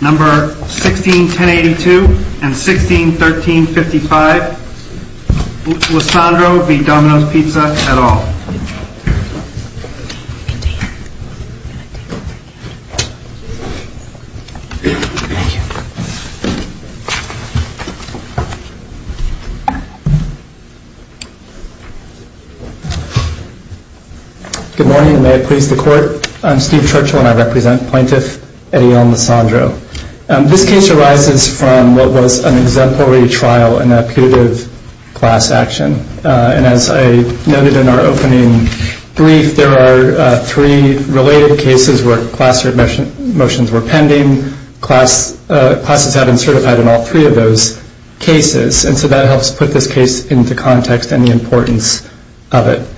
Number 161082 and 161355, Lissandro v. Domino's Pizza et al. Good morning and may it please the court. I'm Steve Churchill and I represent Plaintiff et al. Lissandro. This case arises from what was an exemplary trial in a putative class action. And as I noted in our opening brief, there are three related cases where class motions were pending. Classes haven't certified in all three of those cases. And so that helps put this case into context and the importance of it.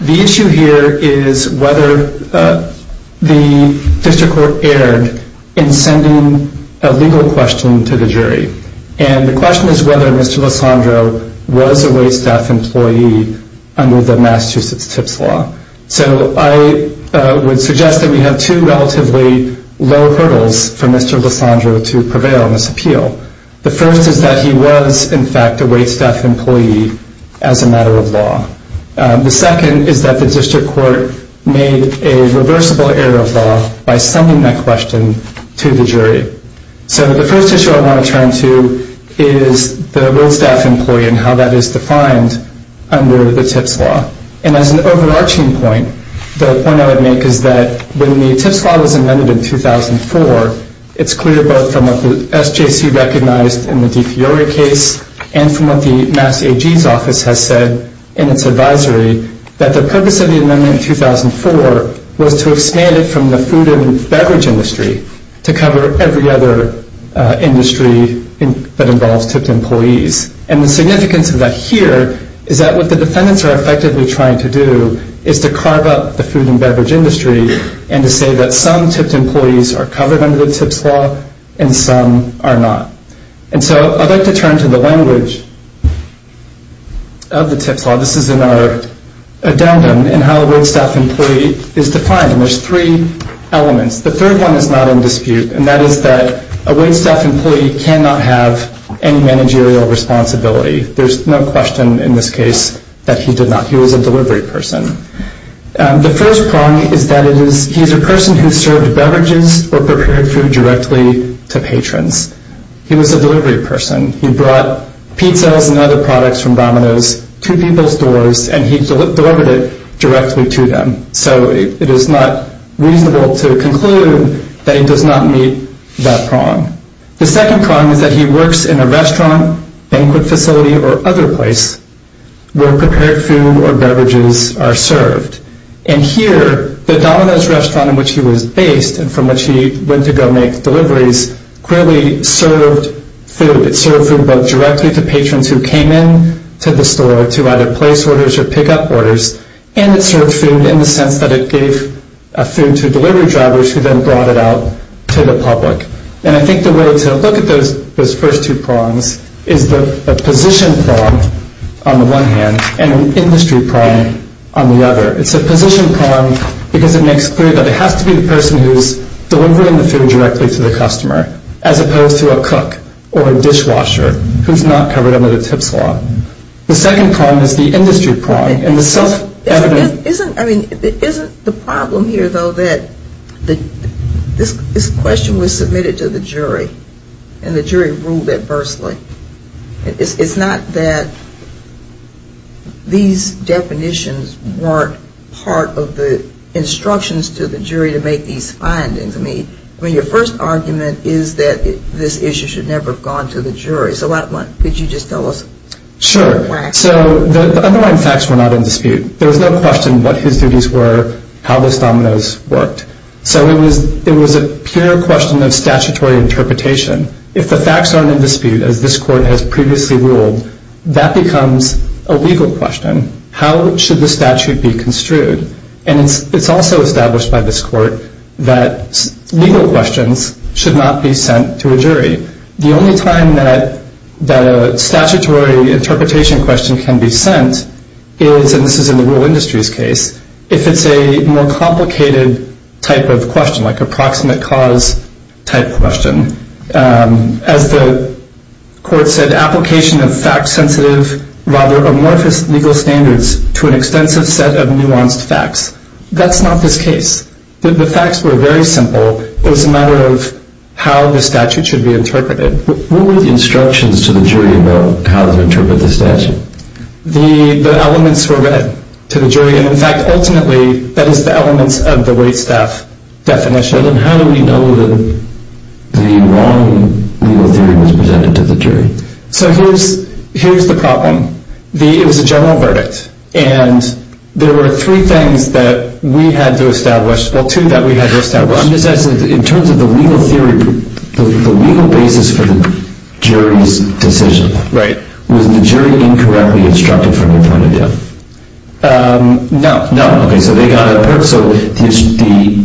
The issue here is whether the district court erred in sending a legal question to the jury. And the question is whether Mr. Lissandro was a waitstaff employee under the Massachusetts TIPS law. So I would suggest that we have two relatively low hurdles for Mr. Lissandro to prevail in this appeal. The first is that he was, in fact, a waitstaff employee as a matter of law. The second is that the district court made a reversible error of law by sending that question to the jury. So the first issue I want to turn to is the waitstaff employee and how that is defined under the TIPS law. And as an overarching point, the point I would make is that when the TIPS law was amended in 2004, it's clear both from what the SJC recognized in the Di Fiore case and from what the Mass AG's office has said in its advisory, that the purpose of the amendment in 2004 was to expand it from the food and beverage industry to cover every other industry that involves TIP employees. And the significance of that here is that what the defendants are effectively trying to do is to carve up the food and beverage industry and to say that some TIP employees are covered under the TIPS law and some are not. And so I'd like to turn to the language of the TIPS law. This is in our addendum in how a waitstaff employee is defined, and there's three elements. The third one is not in dispute, and that is that a waitstaff employee cannot have any managerial responsibility. There's no question in this case that he did not. He was a delivery person. The first prong is that he is a person who served beverages or prepared food directly to patrons. He was a delivery person. He brought pizzas and other products from Domino's to people's doors, and he delivered it directly to them. So it is not reasonable to conclude that he does not meet that prong. The second prong is that he works in a restaurant, banquet facility, or other place where prepared food or beverages are served. And here, the Domino's restaurant in which he was based and from which he went to go make deliveries clearly served food. It served food both directly to patrons who came in to the store to either place orders or pick up orders, and it served food in the sense that it gave food to delivery drivers who then brought it out to the public. And I think the way to look at those first two prongs is the position prong on the one hand and an industry prong on the other. It's a position prong because it makes clear that it has to be the person who is delivering the food directly to the customer, as opposed to a cook or a dishwasher who is not covered under the tips law. The second prong is the industry prong. I mean, isn't the problem here, though, that this question was submitted to the jury and the jury ruled adversely. It's not that these definitions weren't part of the instructions to the jury to make these findings. I mean, your first argument is that this issue should never have gone to the jury. So could you just tell us? Sure. So the underlying facts were not in dispute. There was no question what his duties were, how those dominoes worked. So it was a pure question of statutory interpretation. If the facts aren't in dispute, as this court has previously ruled, that becomes a legal question. How should the statute be construed? And it's also established by this court that legal questions should not be sent to a jury. The only time that a statutory interpretation question can be sent is, and this is in the rural industries case, if it's a more complicated type of question, like a proximate cause type question. As the court said, application of fact-sensitive, rather amorphous legal standards to an extensive set of nuanced facts. That's not this case. The facts were very simple. It was a matter of how the statute should be interpreted. What were the instructions to the jury about how to interpret the statute? The elements were read to the jury. And in fact, ultimately, that is the elements of the Waitstaff definition. And how do we know that the wrong legal theory was presented to the jury? So here's the problem. It was a general verdict. And there were three things that we had to establish. Well, two that we had to establish. I'm just asking, in terms of the legal theory, the legal basis for the jury's decision. Right. Was the jury incorrectly instructed from your point of view? No. No, okay. So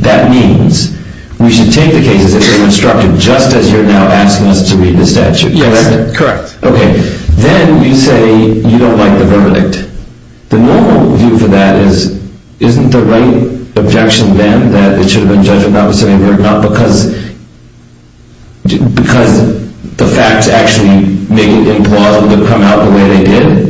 that means we should take the cases that were instructed just as you're now asking us to read the statute, correct? Yes, correct. Okay. Then you say you don't like the verdict. The normal view for that is, isn't the right objection then that it should have been judged on the opposite end, not because the facts actually make it implausible to come out the way they did?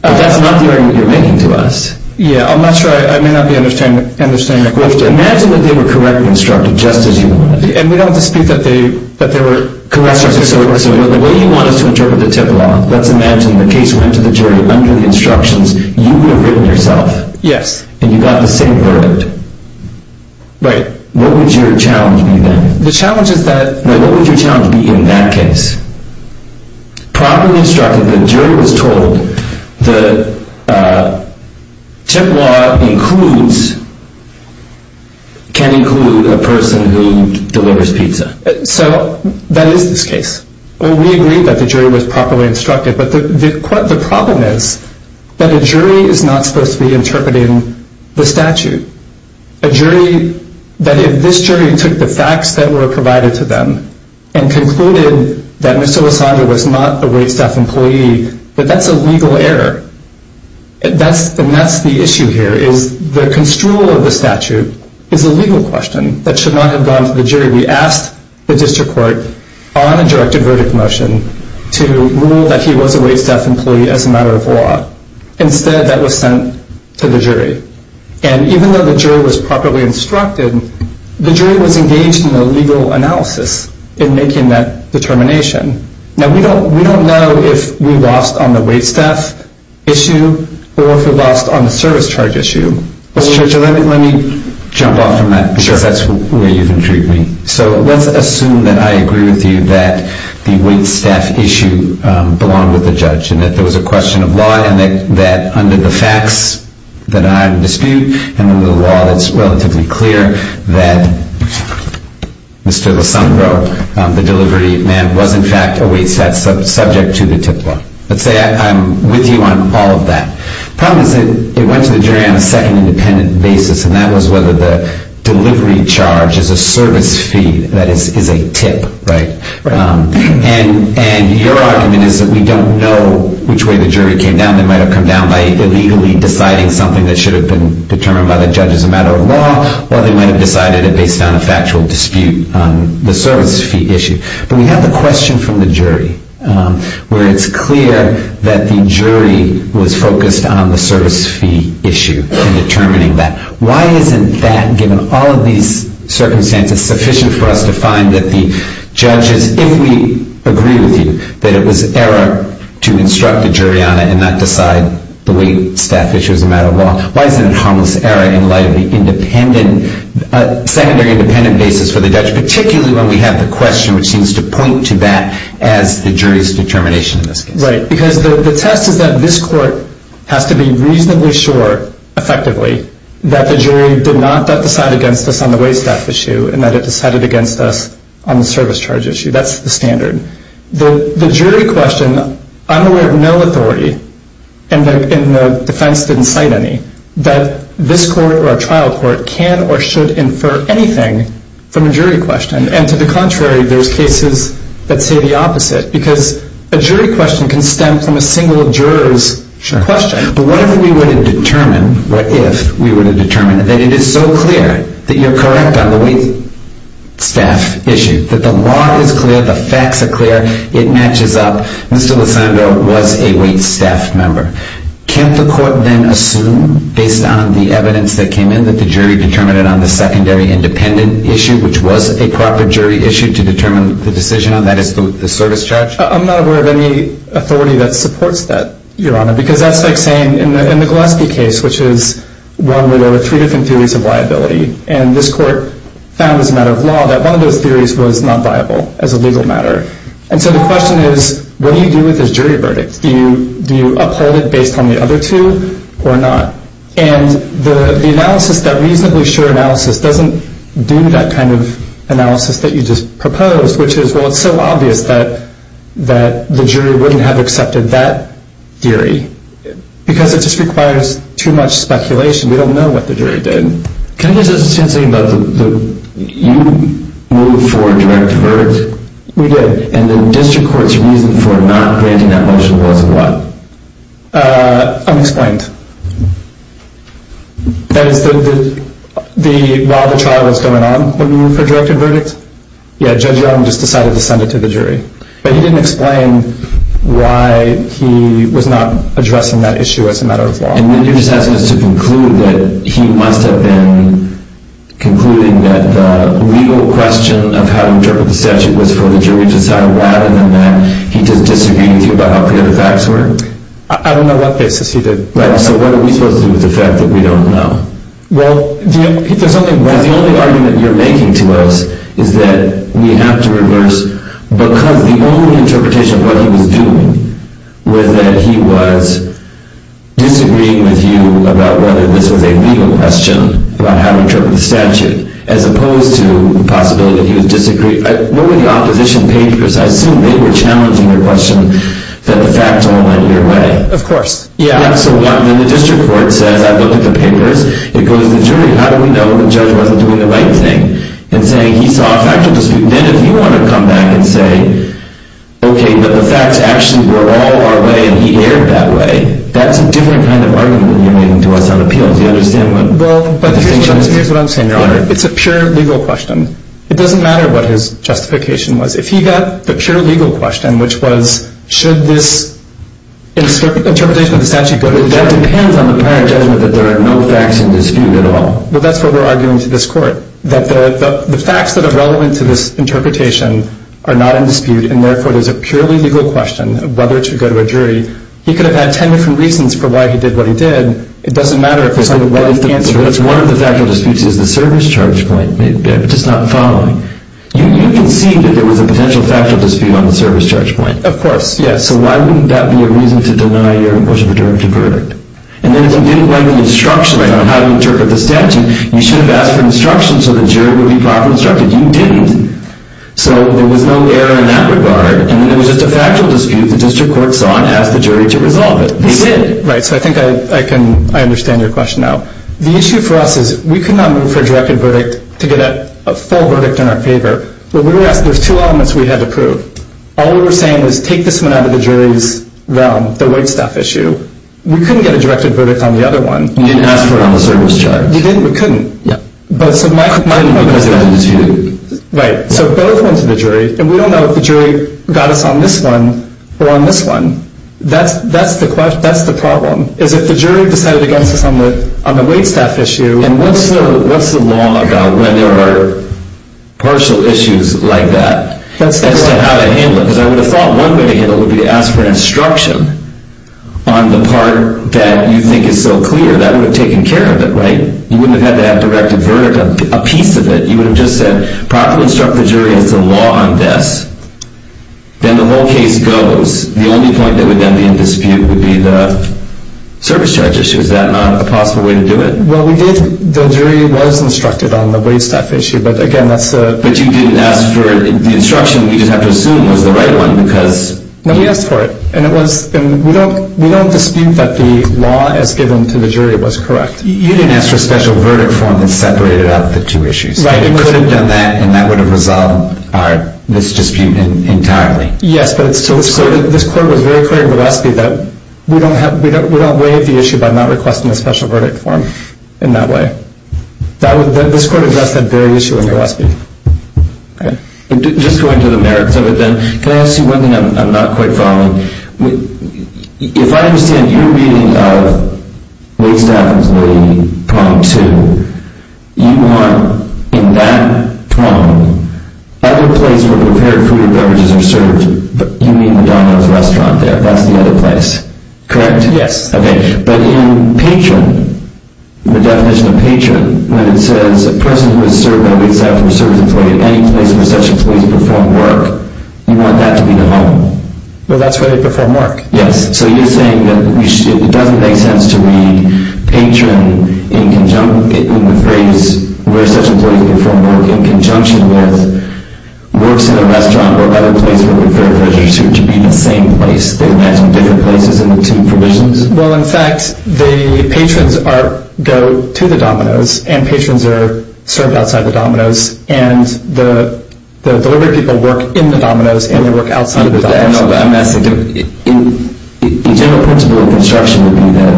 That's not the argument you're making to us. Yeah, I'm not sure. I may not be understanding the question. Imagine that they were correctly instructed just as you wanted. And we don't dispute that they were correctly instructed. So the way you want us to interpret the tip law, let's imagine the case went to the jury under the instructions you would have written yourself. Yes. And you got the same verdict. Right. What would your challenge be then? The challenge is that… What would your challenge be in that case? Properly instructed, the jury was told the tip law includes, can include a person who delivers pizza. So that is this case. We agree that the jury was properly instructed. But the problem is that a jury is not supposed to be interpreting the statute. A jury, that if this jury took the facts that were provided to them and concluded that Ms. Olasundra was not a waitstaff employee, that that's a legal error. And that's the issue here is the construal of the statute is a legal question that should not have gone to the jury. We asked the district court on a directed verdict motion to rule that he was a waitstaff employee as a matter of law. Instead, that was sent to the jury. And even though the jury was properly instructed, the jury was engaged in a legal analysis in making that determination. Now, we don't know if we lost on the waitstaff issue or if we lost on the service charge issue. Mr. Churchill, let me jump off from that because that's where you've intrigued me. So let's assume that I agree with you that the waitstaff issue belonged with the judge and that there was a question of law. And that under the facts that I dispute and under the law, it's relatively clear that Mr. Olasundra, the delivery man, was in fact a waitstaff subject to the tip law. Let's say I'm with you on all of that. The problem is that it went to the jury on a second independent basis. And that was whether the delivery charge is a service fee. That is a tip, right? And your argument is that we don't know which way the jury came down. They might have come down by illegally deciding something that should have been determined by the judge as a matter of law, or they might have decided it based on a factual dispute on the service fee issue. But we have the question from the jury where it's clear that the jury was focused on the service fee issue in determining that. Why isn't that, given all of these circumstances, sufficient for us to find that the judges, if we agree with you that it was error to instruct the jury on it and not decide the waitstaff issue as a matter of law, why isn't it harmless error in light of the independent, secondary independent basis for the judge, particularly when we have the question which seems to point to that as the jury's determination in this case? Right, because the test is that this court has to be reasonably sure, effectively, that the jury did not decide against us on the waitstaff issue and that it decided against us on the service charge issue. That's the standard. The jury question, I'm aware of no authority, and the defense didn't cite any, that this court or a trial court can or should infer anything from a jury question. And to the contrary, there's cases that say the opposite, because a jury question can stem from a single juror's question. But what if we were to determine, what if we were to determine, that it is so clear that you're correct on the waitstaff issue, that the law is clear, the facts are clear, it matches up, Mr. Lisandro was a waitstaff member. Can't the court then assume, based on the evidence that came in, that the jury determined it on the secondary independent issue, which was a proper jury issue to determine the decision on, that is, the service charge? I'm not aware of any authority that supports that, Your Honor, because that's like saying in the Gillespie case, which is one where there were three different theories of liability, and this court found as a matter of law that one of those theories was not viable as a legal matter. And so the question is, what do you do with this jury verdict? Do you uphold it based on the other two or not? And the analysis, that reasonably sure analysis, doesn't do that kind of analysis that you just proposed, which is, well, it's so obvious that the jury wouldn't have accepted that theory, because it just requires too much speculation. We don't know what the jury did. Can I just add something about the, you moved for a direct verdict? We did. And the district court's reason for not granting that motion was what? Unexplained. That is, while the trial was going on, when you moved for a direct verdict? Yeah, Judge Young just decided to send it to the jury. But he didn't explain why he was not addressing that issue as a matter of law. And you're just asking us to conclude that he must have been concluding that the legal question of how to interpret the statute was for the jury to decide why, and then that he just disagreed with you about how clear the facts were? I don't know what basis he did. Right, so what are we supposed to do with the fact that we don't know? Well, the only argument you're making to us is that we have to reverse, because the only interpretation of what he was doing was that he was disagreeing with you about whether this was a legal question about how to interpret the statute, as opposed to the possibility that he was disagreeing. What were the opposition papers? I assume they were challenging your question that the facts all went your way. Of course. Yeah, so when the district court says, I looked at the papers, it goes to the jury. How do we know the judge wasn't doing the right thing? And saying, he saw a factual dispute. Then if you want to come back and say, okay, but the facts actually were all our way, and he erred that way, that's a different kind of argument that you're making to us on appeal. Do you understand what I'm saying? Here's what I'm saying, Your Honor. It's a pure legal question. It doesn't matter what his justification was. If he got the pure legal question, which was, should this interpretation of the statute go to the jury? That depends on the apparent judgment that there are no facts in dispute at all. Well, that's what we're arguing to this court, that the facts that are relevant to this interpretation are not in dispute, and therefore, there's a purely legal question of whether it should go to a jury. He could have had 10 different reasons for why he did what he did. It doesn't matter if it's the right answer. That's one of the factual disputes is the service charge point, which is not following. You conceded there was a potential factual dispute on the service charge point. Of course, yes. So why wouldn't that be a reason to deny your approach of the jury of the verdict? And then if you didn't like the instruction on how to interpret the statute, you should have asked for instruction so the jury would be properly instructed. You didn't. So there was no error in that regard, and it was just a factual dispute the district court saw and asked the jury to resolve it. They did. Right. So I think I understand your question now. The issue for us is we could not move for a directed verdict to get a full verdict in our favor, but we were asked those two elements we had to prove. All we were saying was take this one out of the jury's realm, the white stuff issue. We couldn't get a directed verdict on the other one. You didn't, but couldn't. Yeah. So both went to the jury, and we don't know if the jury got us on this one or on this one. That's the problem, is if the jury decided against us on the white stuff issue. And what's the law about when there are partial issues like that as to how to handle it? Because I would have thought one way to handle it would be to ask for instruction on the part that you think is so clear. That would have taken care of it, right? You wouldn't have had to have directed verdict, a piece of it. You would have just said properly instruct the jury as to the law on this. Then the whole case goes. The only point that would then be in dispute would be the service charge issue. Is that not a possible way to do it? Well, we did. The jury was instructed on the white stuff issue, but, again, that's a— But you didn't ask for it. The instruction, we just have to assume, was the right one because— No, we asked for it. And it was—and we don't dispute that the law as given to the jury was correct. You didn't ask for a special verdict form that separated out the two issues. Right. You could have done that, and that would have resolved this dispute entirely. Yes, but it's still— So this court was very clear in the recipe that we don't waive the issue by not requesting a special verdict form in that way. This court addressed that very issue in the recipe. Okay. Just going to the merits of it then, can I ask you one thing I'm not quite following? If I understand your meaning of waitstaff employee prong two, you want, in that prong, other places where prepared food and beverages are served. You mean Madonna's Restaurant there. That's the other place, correct? Yes. Okay. But in patron, the definition of patron, when it says a person who is served by a waitstaff or a service employee at any place where such employees perform work, you want that to be the home. Well, that's where they perform work. Yes. So you're saying that it doesn't make sense to read patron in the phrase where such employees perform work in conjunction with works in a restaurant or other place where prepared food and beverages are served to be in the same place. They're meant in different places in the two provisions. Well, in fact, the patrons go to the Domino's, and patrons are served outside the Domino's, and the delivery people work in the Domino's, and they work outside the Domino's. I know, but I'm asking, the general principle of construction would be that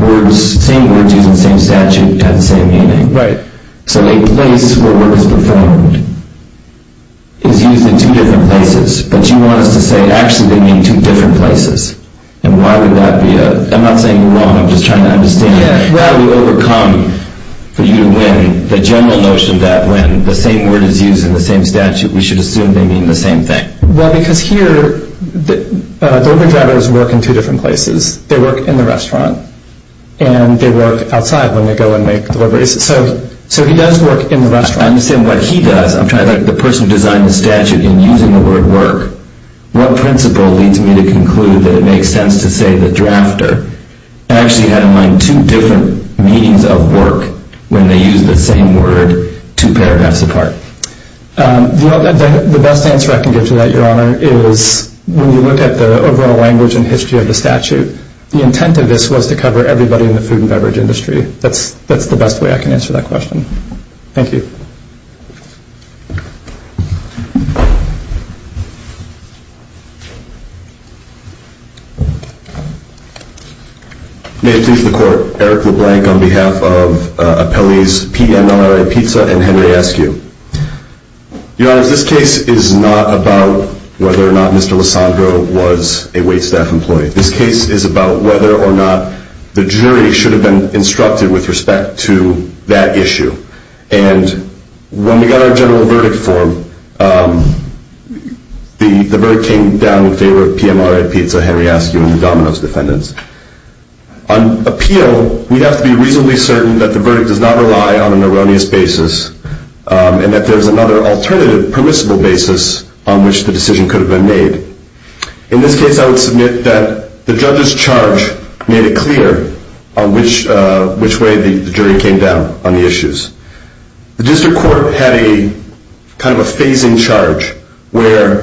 words, same words used in the same statute have the same meaning. Right. So a place where work is performed is used in two different places, but you want us to say, actually, they mean two different places. And why would that be a, I'm not saying you're wrong, I'm just trying to understand. Yes. How do we overcome, for you to win, the general notion that when the same word is used in the same statute, we should assume they mean the same thing? Well, because here, delivery drivers work in two different places. They work in the restaurant, and they work outside when they go and make deliveries. So he does work in the restaurant. I understand what he does. I'm trying to think. The person who designed the statute, in using the word work, what principle leads me to conclude that it makes sense to say the drafter actually had in mind two different meanings of work when they used the same word two paragraphs apart? The best answer I can give to that, Your Honor, is when you look at the overall language and history of the statute, the intent of this was to cover everybody in the food and beverage industry. That's the best way I can answer that question. Thank you. May it please the Court. Eric LeBlanc on behalf of appellees P.M.R.A. Pizza and Henry Askew. Your Honor, this case is not about whether or not Mr. LoSandro was a waitstaff employee. This case is about whether or not the jury should have been instructed with respect to that issue. And when we got our general verdict form, the verdict came down in favor of P.M.R.A. Pizza, Henry Askew, and the Domino's defendants. On appeal, we have to be reasonably certain that the verdict does not rely on an erroneous basis and that there is another alternative permissible basis on which the decision could have been made. In this case, I would submit that the judge's charge made it clear on which way the jury came down on the issues. The district court had a kind of a phasing charge where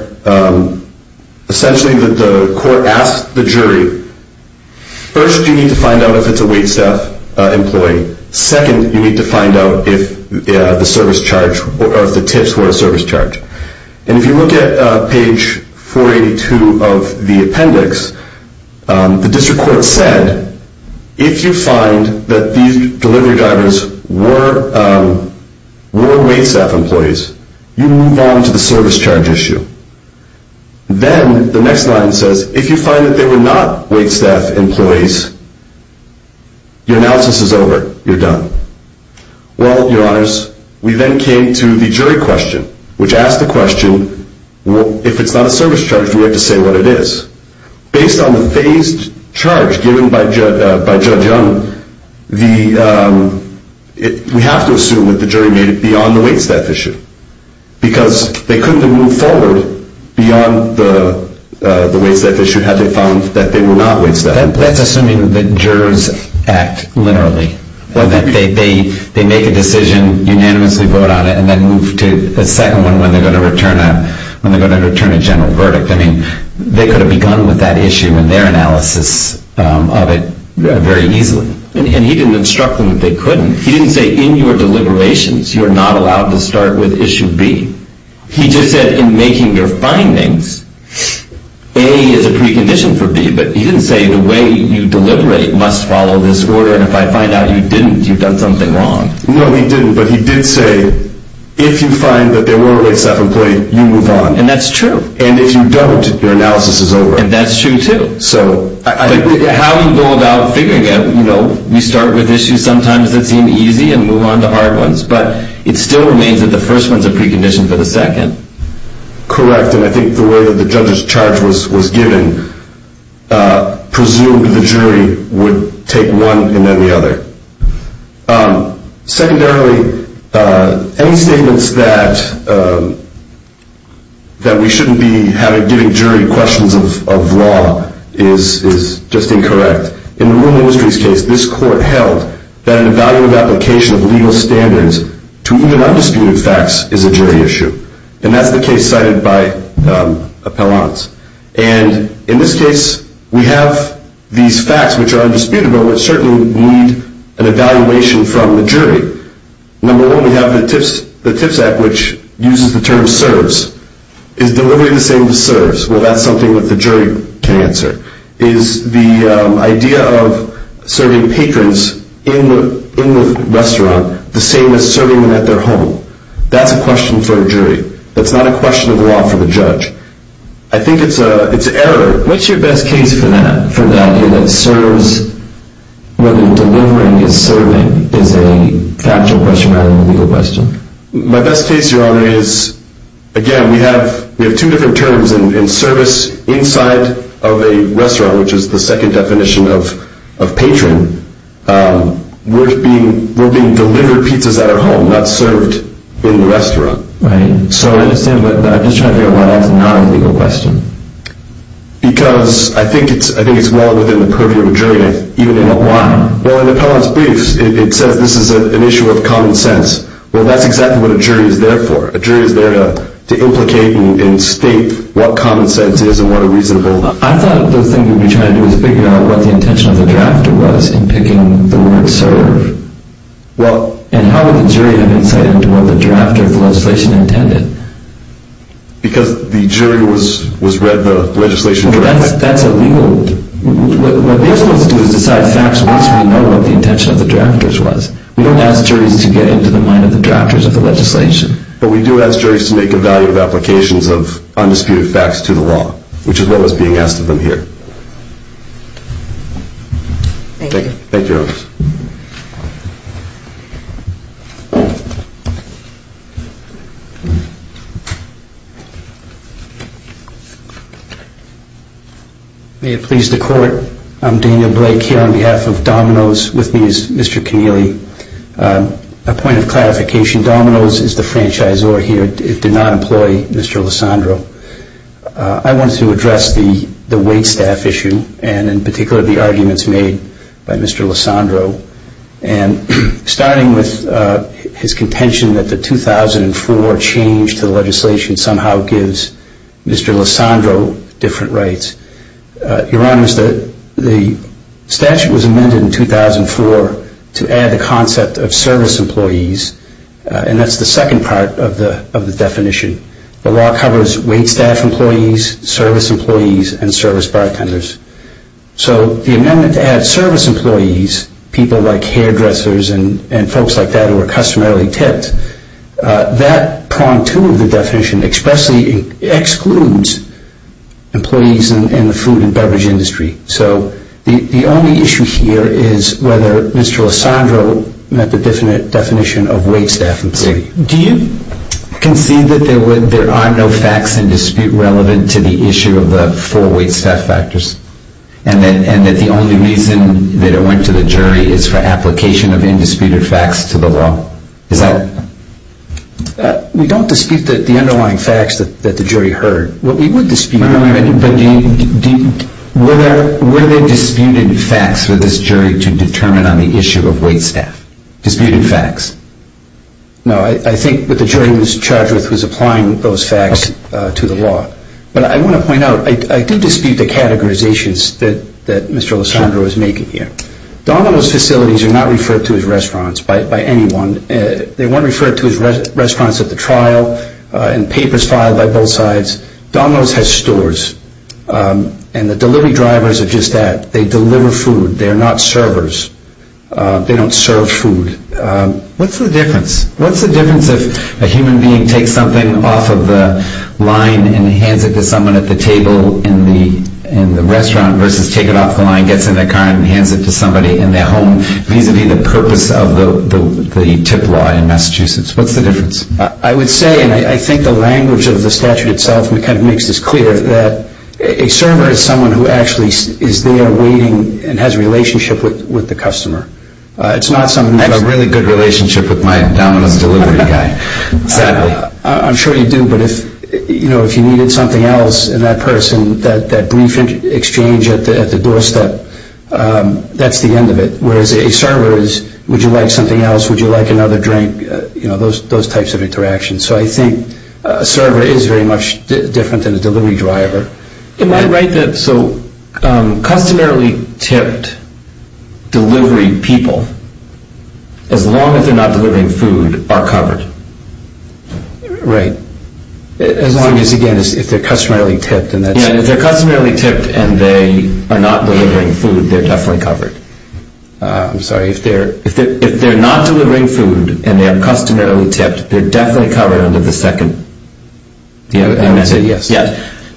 essentially the court asked the jury, first you need to find out if it's a waitstaff employee. Second, you need to find out if the service charge or if the tips were a service charge. And if you look at page 482 of the appendix, the district court said, if you find that these delivery drivers were waitstaff employees, you move on to the service charge issue. Then the next line says, if you find that they were not waitstaff employees, your analysis is over, you're done. Well, your honors, we then came to the jury question, which asked the question, if it's not a service charge, do we have to say what it is? Based on the phased charge given by Judge Young, we have to assume that the jury made it beyond the waitstaff issue. Because they couldn't have moved forward beyond the waitstaff issue had they found that they were not waitstaff. That's assuming that jurors act literally. They make a decision, unanimously vote on it, and then move to a second one when they're going to return a general verdict. I mean, they could have begun with that issue and their analysis of it very easily. And he didn't instruct them that they couldn't. He didn't say, in your deliberations, you're not allowed to start with issue B. He just said, in making your findings, A is a precondition for B. But he didn't say, the way you deliberate must follow this order. And if I find out you didn't, you've done something wrong. No, he didn't. But he did say, if you find that there were waitstaff employees, you move on. And that's true. And if you don't, your analysis is over. And that's true, too. But how do you go about figuring it? We start with issues sometimes that seem easy and move on to hard ones. But it still remains that the first one is a precondition for the second. Correct. And I think the way that the judge's charge was given presumed the jury would take one and then the other. Secondarily, any statements that we shouldn't be giving jury questions of law is just incorrect. In the Rural Industries case, this court held that an evaluative application of legal standards to even undisputed facts is a jury issue. And that's the case cited by Appellant. And in this case, we have these facts which are undisputable and certainly need an evaluation from the jury. Number one, we have the TIPS Act, which uses the term serves. Is delivery the same as serves? Well, that's something that the jury can answer. Is the idea of serving patrons in the restaurant the same as serving them at their home? That's a question for a jury. That's not a question of law for the judge. I think it's an error. What's your best case for that, for the idea that serves, whether delivering is serving, is a factual question rather than a legal question? My best case, Your Honor, is, again, we have two different terms. In service inside of a restaurant, which is the second definition of patron, we're being delivered pizzas at our home, not served in the restaurant. Right. So I understand, but I'm just trying to figure out why that's not a legal question. Because I think it's well within the purview of a jury to even know why. Well, in Appellant's briefs, it says this is an issue of common sense. Well, that's exactly what a jury is there for. A jury is there to implicate and state what common sense is and what are reasonable. I thought the thing we'd be trying to do is figure out what the intention of the drafter was in picking the word serve. And how would the jury have insight into what the drafter of the legislation intended? Because the jury was read the legislation directly. Well, that's illegal. What we're supposed to do is decide facts once we know what the intention of the drafters was. We don't ask juries to get into the mind of the drafters of the legislation. But we do ask juries to make evaluative applications of undisputed facts to the law, which is what was being asked of them here. Thank you. Thank you, Your Honor. Thank you. May it please the Court, I'm Daniel Blake here on behalf of Domino's. With me is Mr. Connealy. A point of clarification, Domino's is the franchisor here. It did not employ Mr. LoSandro. I wanted to address the waitstaff issue and in particular the arguments made by Mr. LoSandro. And starting with his contention that the 2004 change to the legislation somehow gives Mr. LoSandro different rights. Your Honor, the statute was amended in 2004 to add the concept of service employees. And that's the second part of the definition. The law covers waitstaff employees, service employees, and service bartenders. So the amendment to add service employees, people like hairdressers and folks like that who are customarily tipped, that prong to the definition expressly excludes employees in the food and beverage industry. So the only issue here is whether Mr. LoSandro met the definition of waitstaff employee. Do you concede that there are no facts in dispute relevant to the issue of the four waitstaff factors? And that the only reason that it went to the jury is for application of indisputed facts to the law? We don't dispute the underlying facts that the jury heard. We would dispute that. Were there disputed facts for this jury to determine on the issue of waitstaff? Disputed facts? No. I think that the jury was charged with was applying those facts to the law. But I want to point out, I do dispute the categorizations that Mr. LoSandro is making here. Domino's facilities are not referred to as restaurants by anyone. They weren't referred to as restaurants at the trial and papers filed by both sides. Domino's has stores. And the delivery drivers are just that. They deliver food. They are not servers. They don't serve food. What's the difference? What's the difference if a human being takes something off of the line and hands it to someone at the table in the restaurant versus take it off the line, gets in their car, and hands it to somebody in their home vis-a-vis the purpose of the tip law in Massachusetts? What's the difference? I would say, and I think the language of the statute itself kind of makes this clear, that a server is someone who actually is there waiting and has a relationship with the customer. I have a really good relationship with my Domino's delivery guy, sadly. I'm sure you do, but if you needed something else in that person, that brief exchange at the doorstep, that's the end of it. Whereas a server is, would you like something else? Would you like another drink? You know, those types of interactions. So I think a server is very much different than a delivery driver. Am I right that so customarily tipped delivery people, as long as they're not delivering food, are covered? Right. As long as, again, if they're customarily tipped. Yeah, if they're customarily tipped and they are not delivering food, they're definitely covered. I'm sorry, if they're not delivering food and they are customarily tipped, they're definitely covered under the second.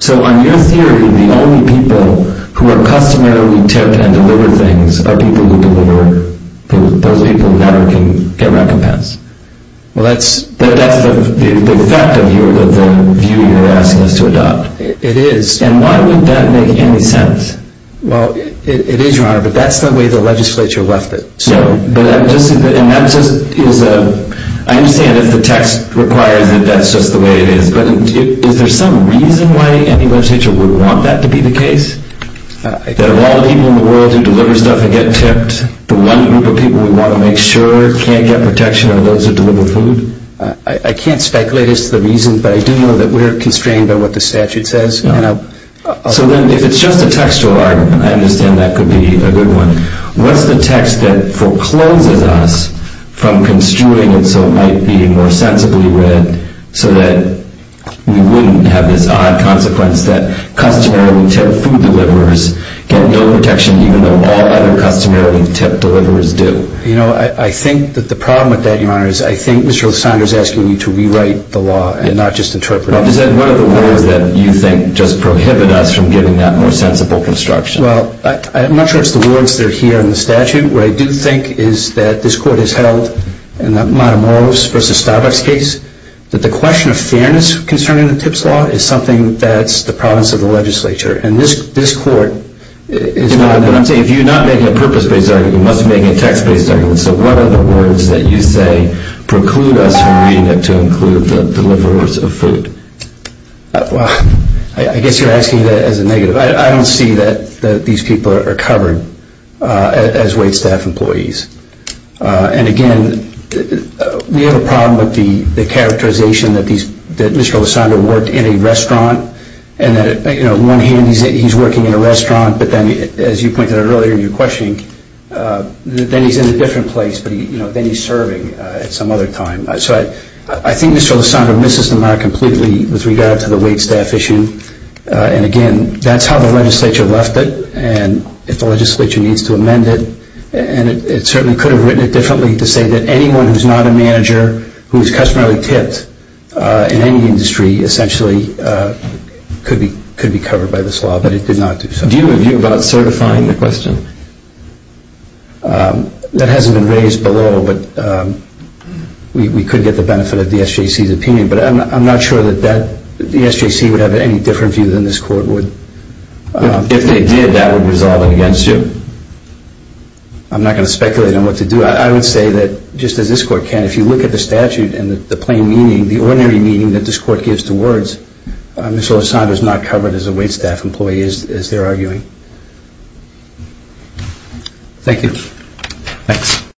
So on your theory, the only people who are customarily tipped and deliver things are people who deliver food. Those people never can get recompense. Well, that's the fact of the view you're asking us to adopt. It is. And why would that make any sense? Well, it is, Your Honor, but that's the way the legislature left it. I understand if the text requires it, that's just the way it is, but is there some reason why any legislature would want that to be the case? That of all the people in the world who deliver stuff and get tipped, the one group of people we want to make sure can't get protection are those who deliver food? I can't speculate as to the reason, but I do know that we're constrained by what the statute says. So then if it's just a textual argument, I understand that could be a good one. What's the text that forecloses us from construing it so it might be more sensibly read so that we wouldn't have this odd consequence that customarily tipped food deliverers get no protection even though all other customarily tipped deliverers do? You know, I think that the problem with that, Your Honor, is I think Mr. Lysander is asking you to rewrite the law and not just interpret it. Well, is that one of the words that you think just prohibit us from getting that more sensible construction? Well, I'm not sure it's the words that are here in the statute. What I do think is that this Court has held in the Matamoros v. Starbucks case that the question of fairness concerning the tips law is something that's the province of the legislature. And this Court is not— But I'm saying if you're not making a purpose-based argument, you must be making a text-based argument. So what are the words that you say preclude us from reading it to include the deliverers of food? Well, I guess you're asking that as a negative. I don't see that these people are covered as waitstaff employees. And again, we have a problem with the characterization that Mr. Lysander worked in a restaurant and that, you know, on one hand, he's working in a restaurant, but then, as you pointed out earlier in your questioning, then he's in a different place, but then he's serving at some other time. So I think Mr. Lysander misses the mark completely with regard to the waitstaff issue. And again, that's how the legislature left it. And if the legislature needs to amend it, it certainly could have written it differently to say that anyone who's not a manager, who's customarily tipped in any industry, essentially, could be covered by this law. But it did not do so. Do you have a view about certifying the question? That hasn't been raised below, but we could get the benefit of the SJC's opinion. But I'm not sure that the SJC would have any different view than this Court would. If they did, that would resolve it against you. I'm not going to speculate on what to do. I would say that, just as this Court can, if you look at the statute and the plain meaning, the ordinary meaning that this Court gives to words, Mr. Lysander is not covered as a waitstaff employee, as they're arguing. Thank you. Thanks.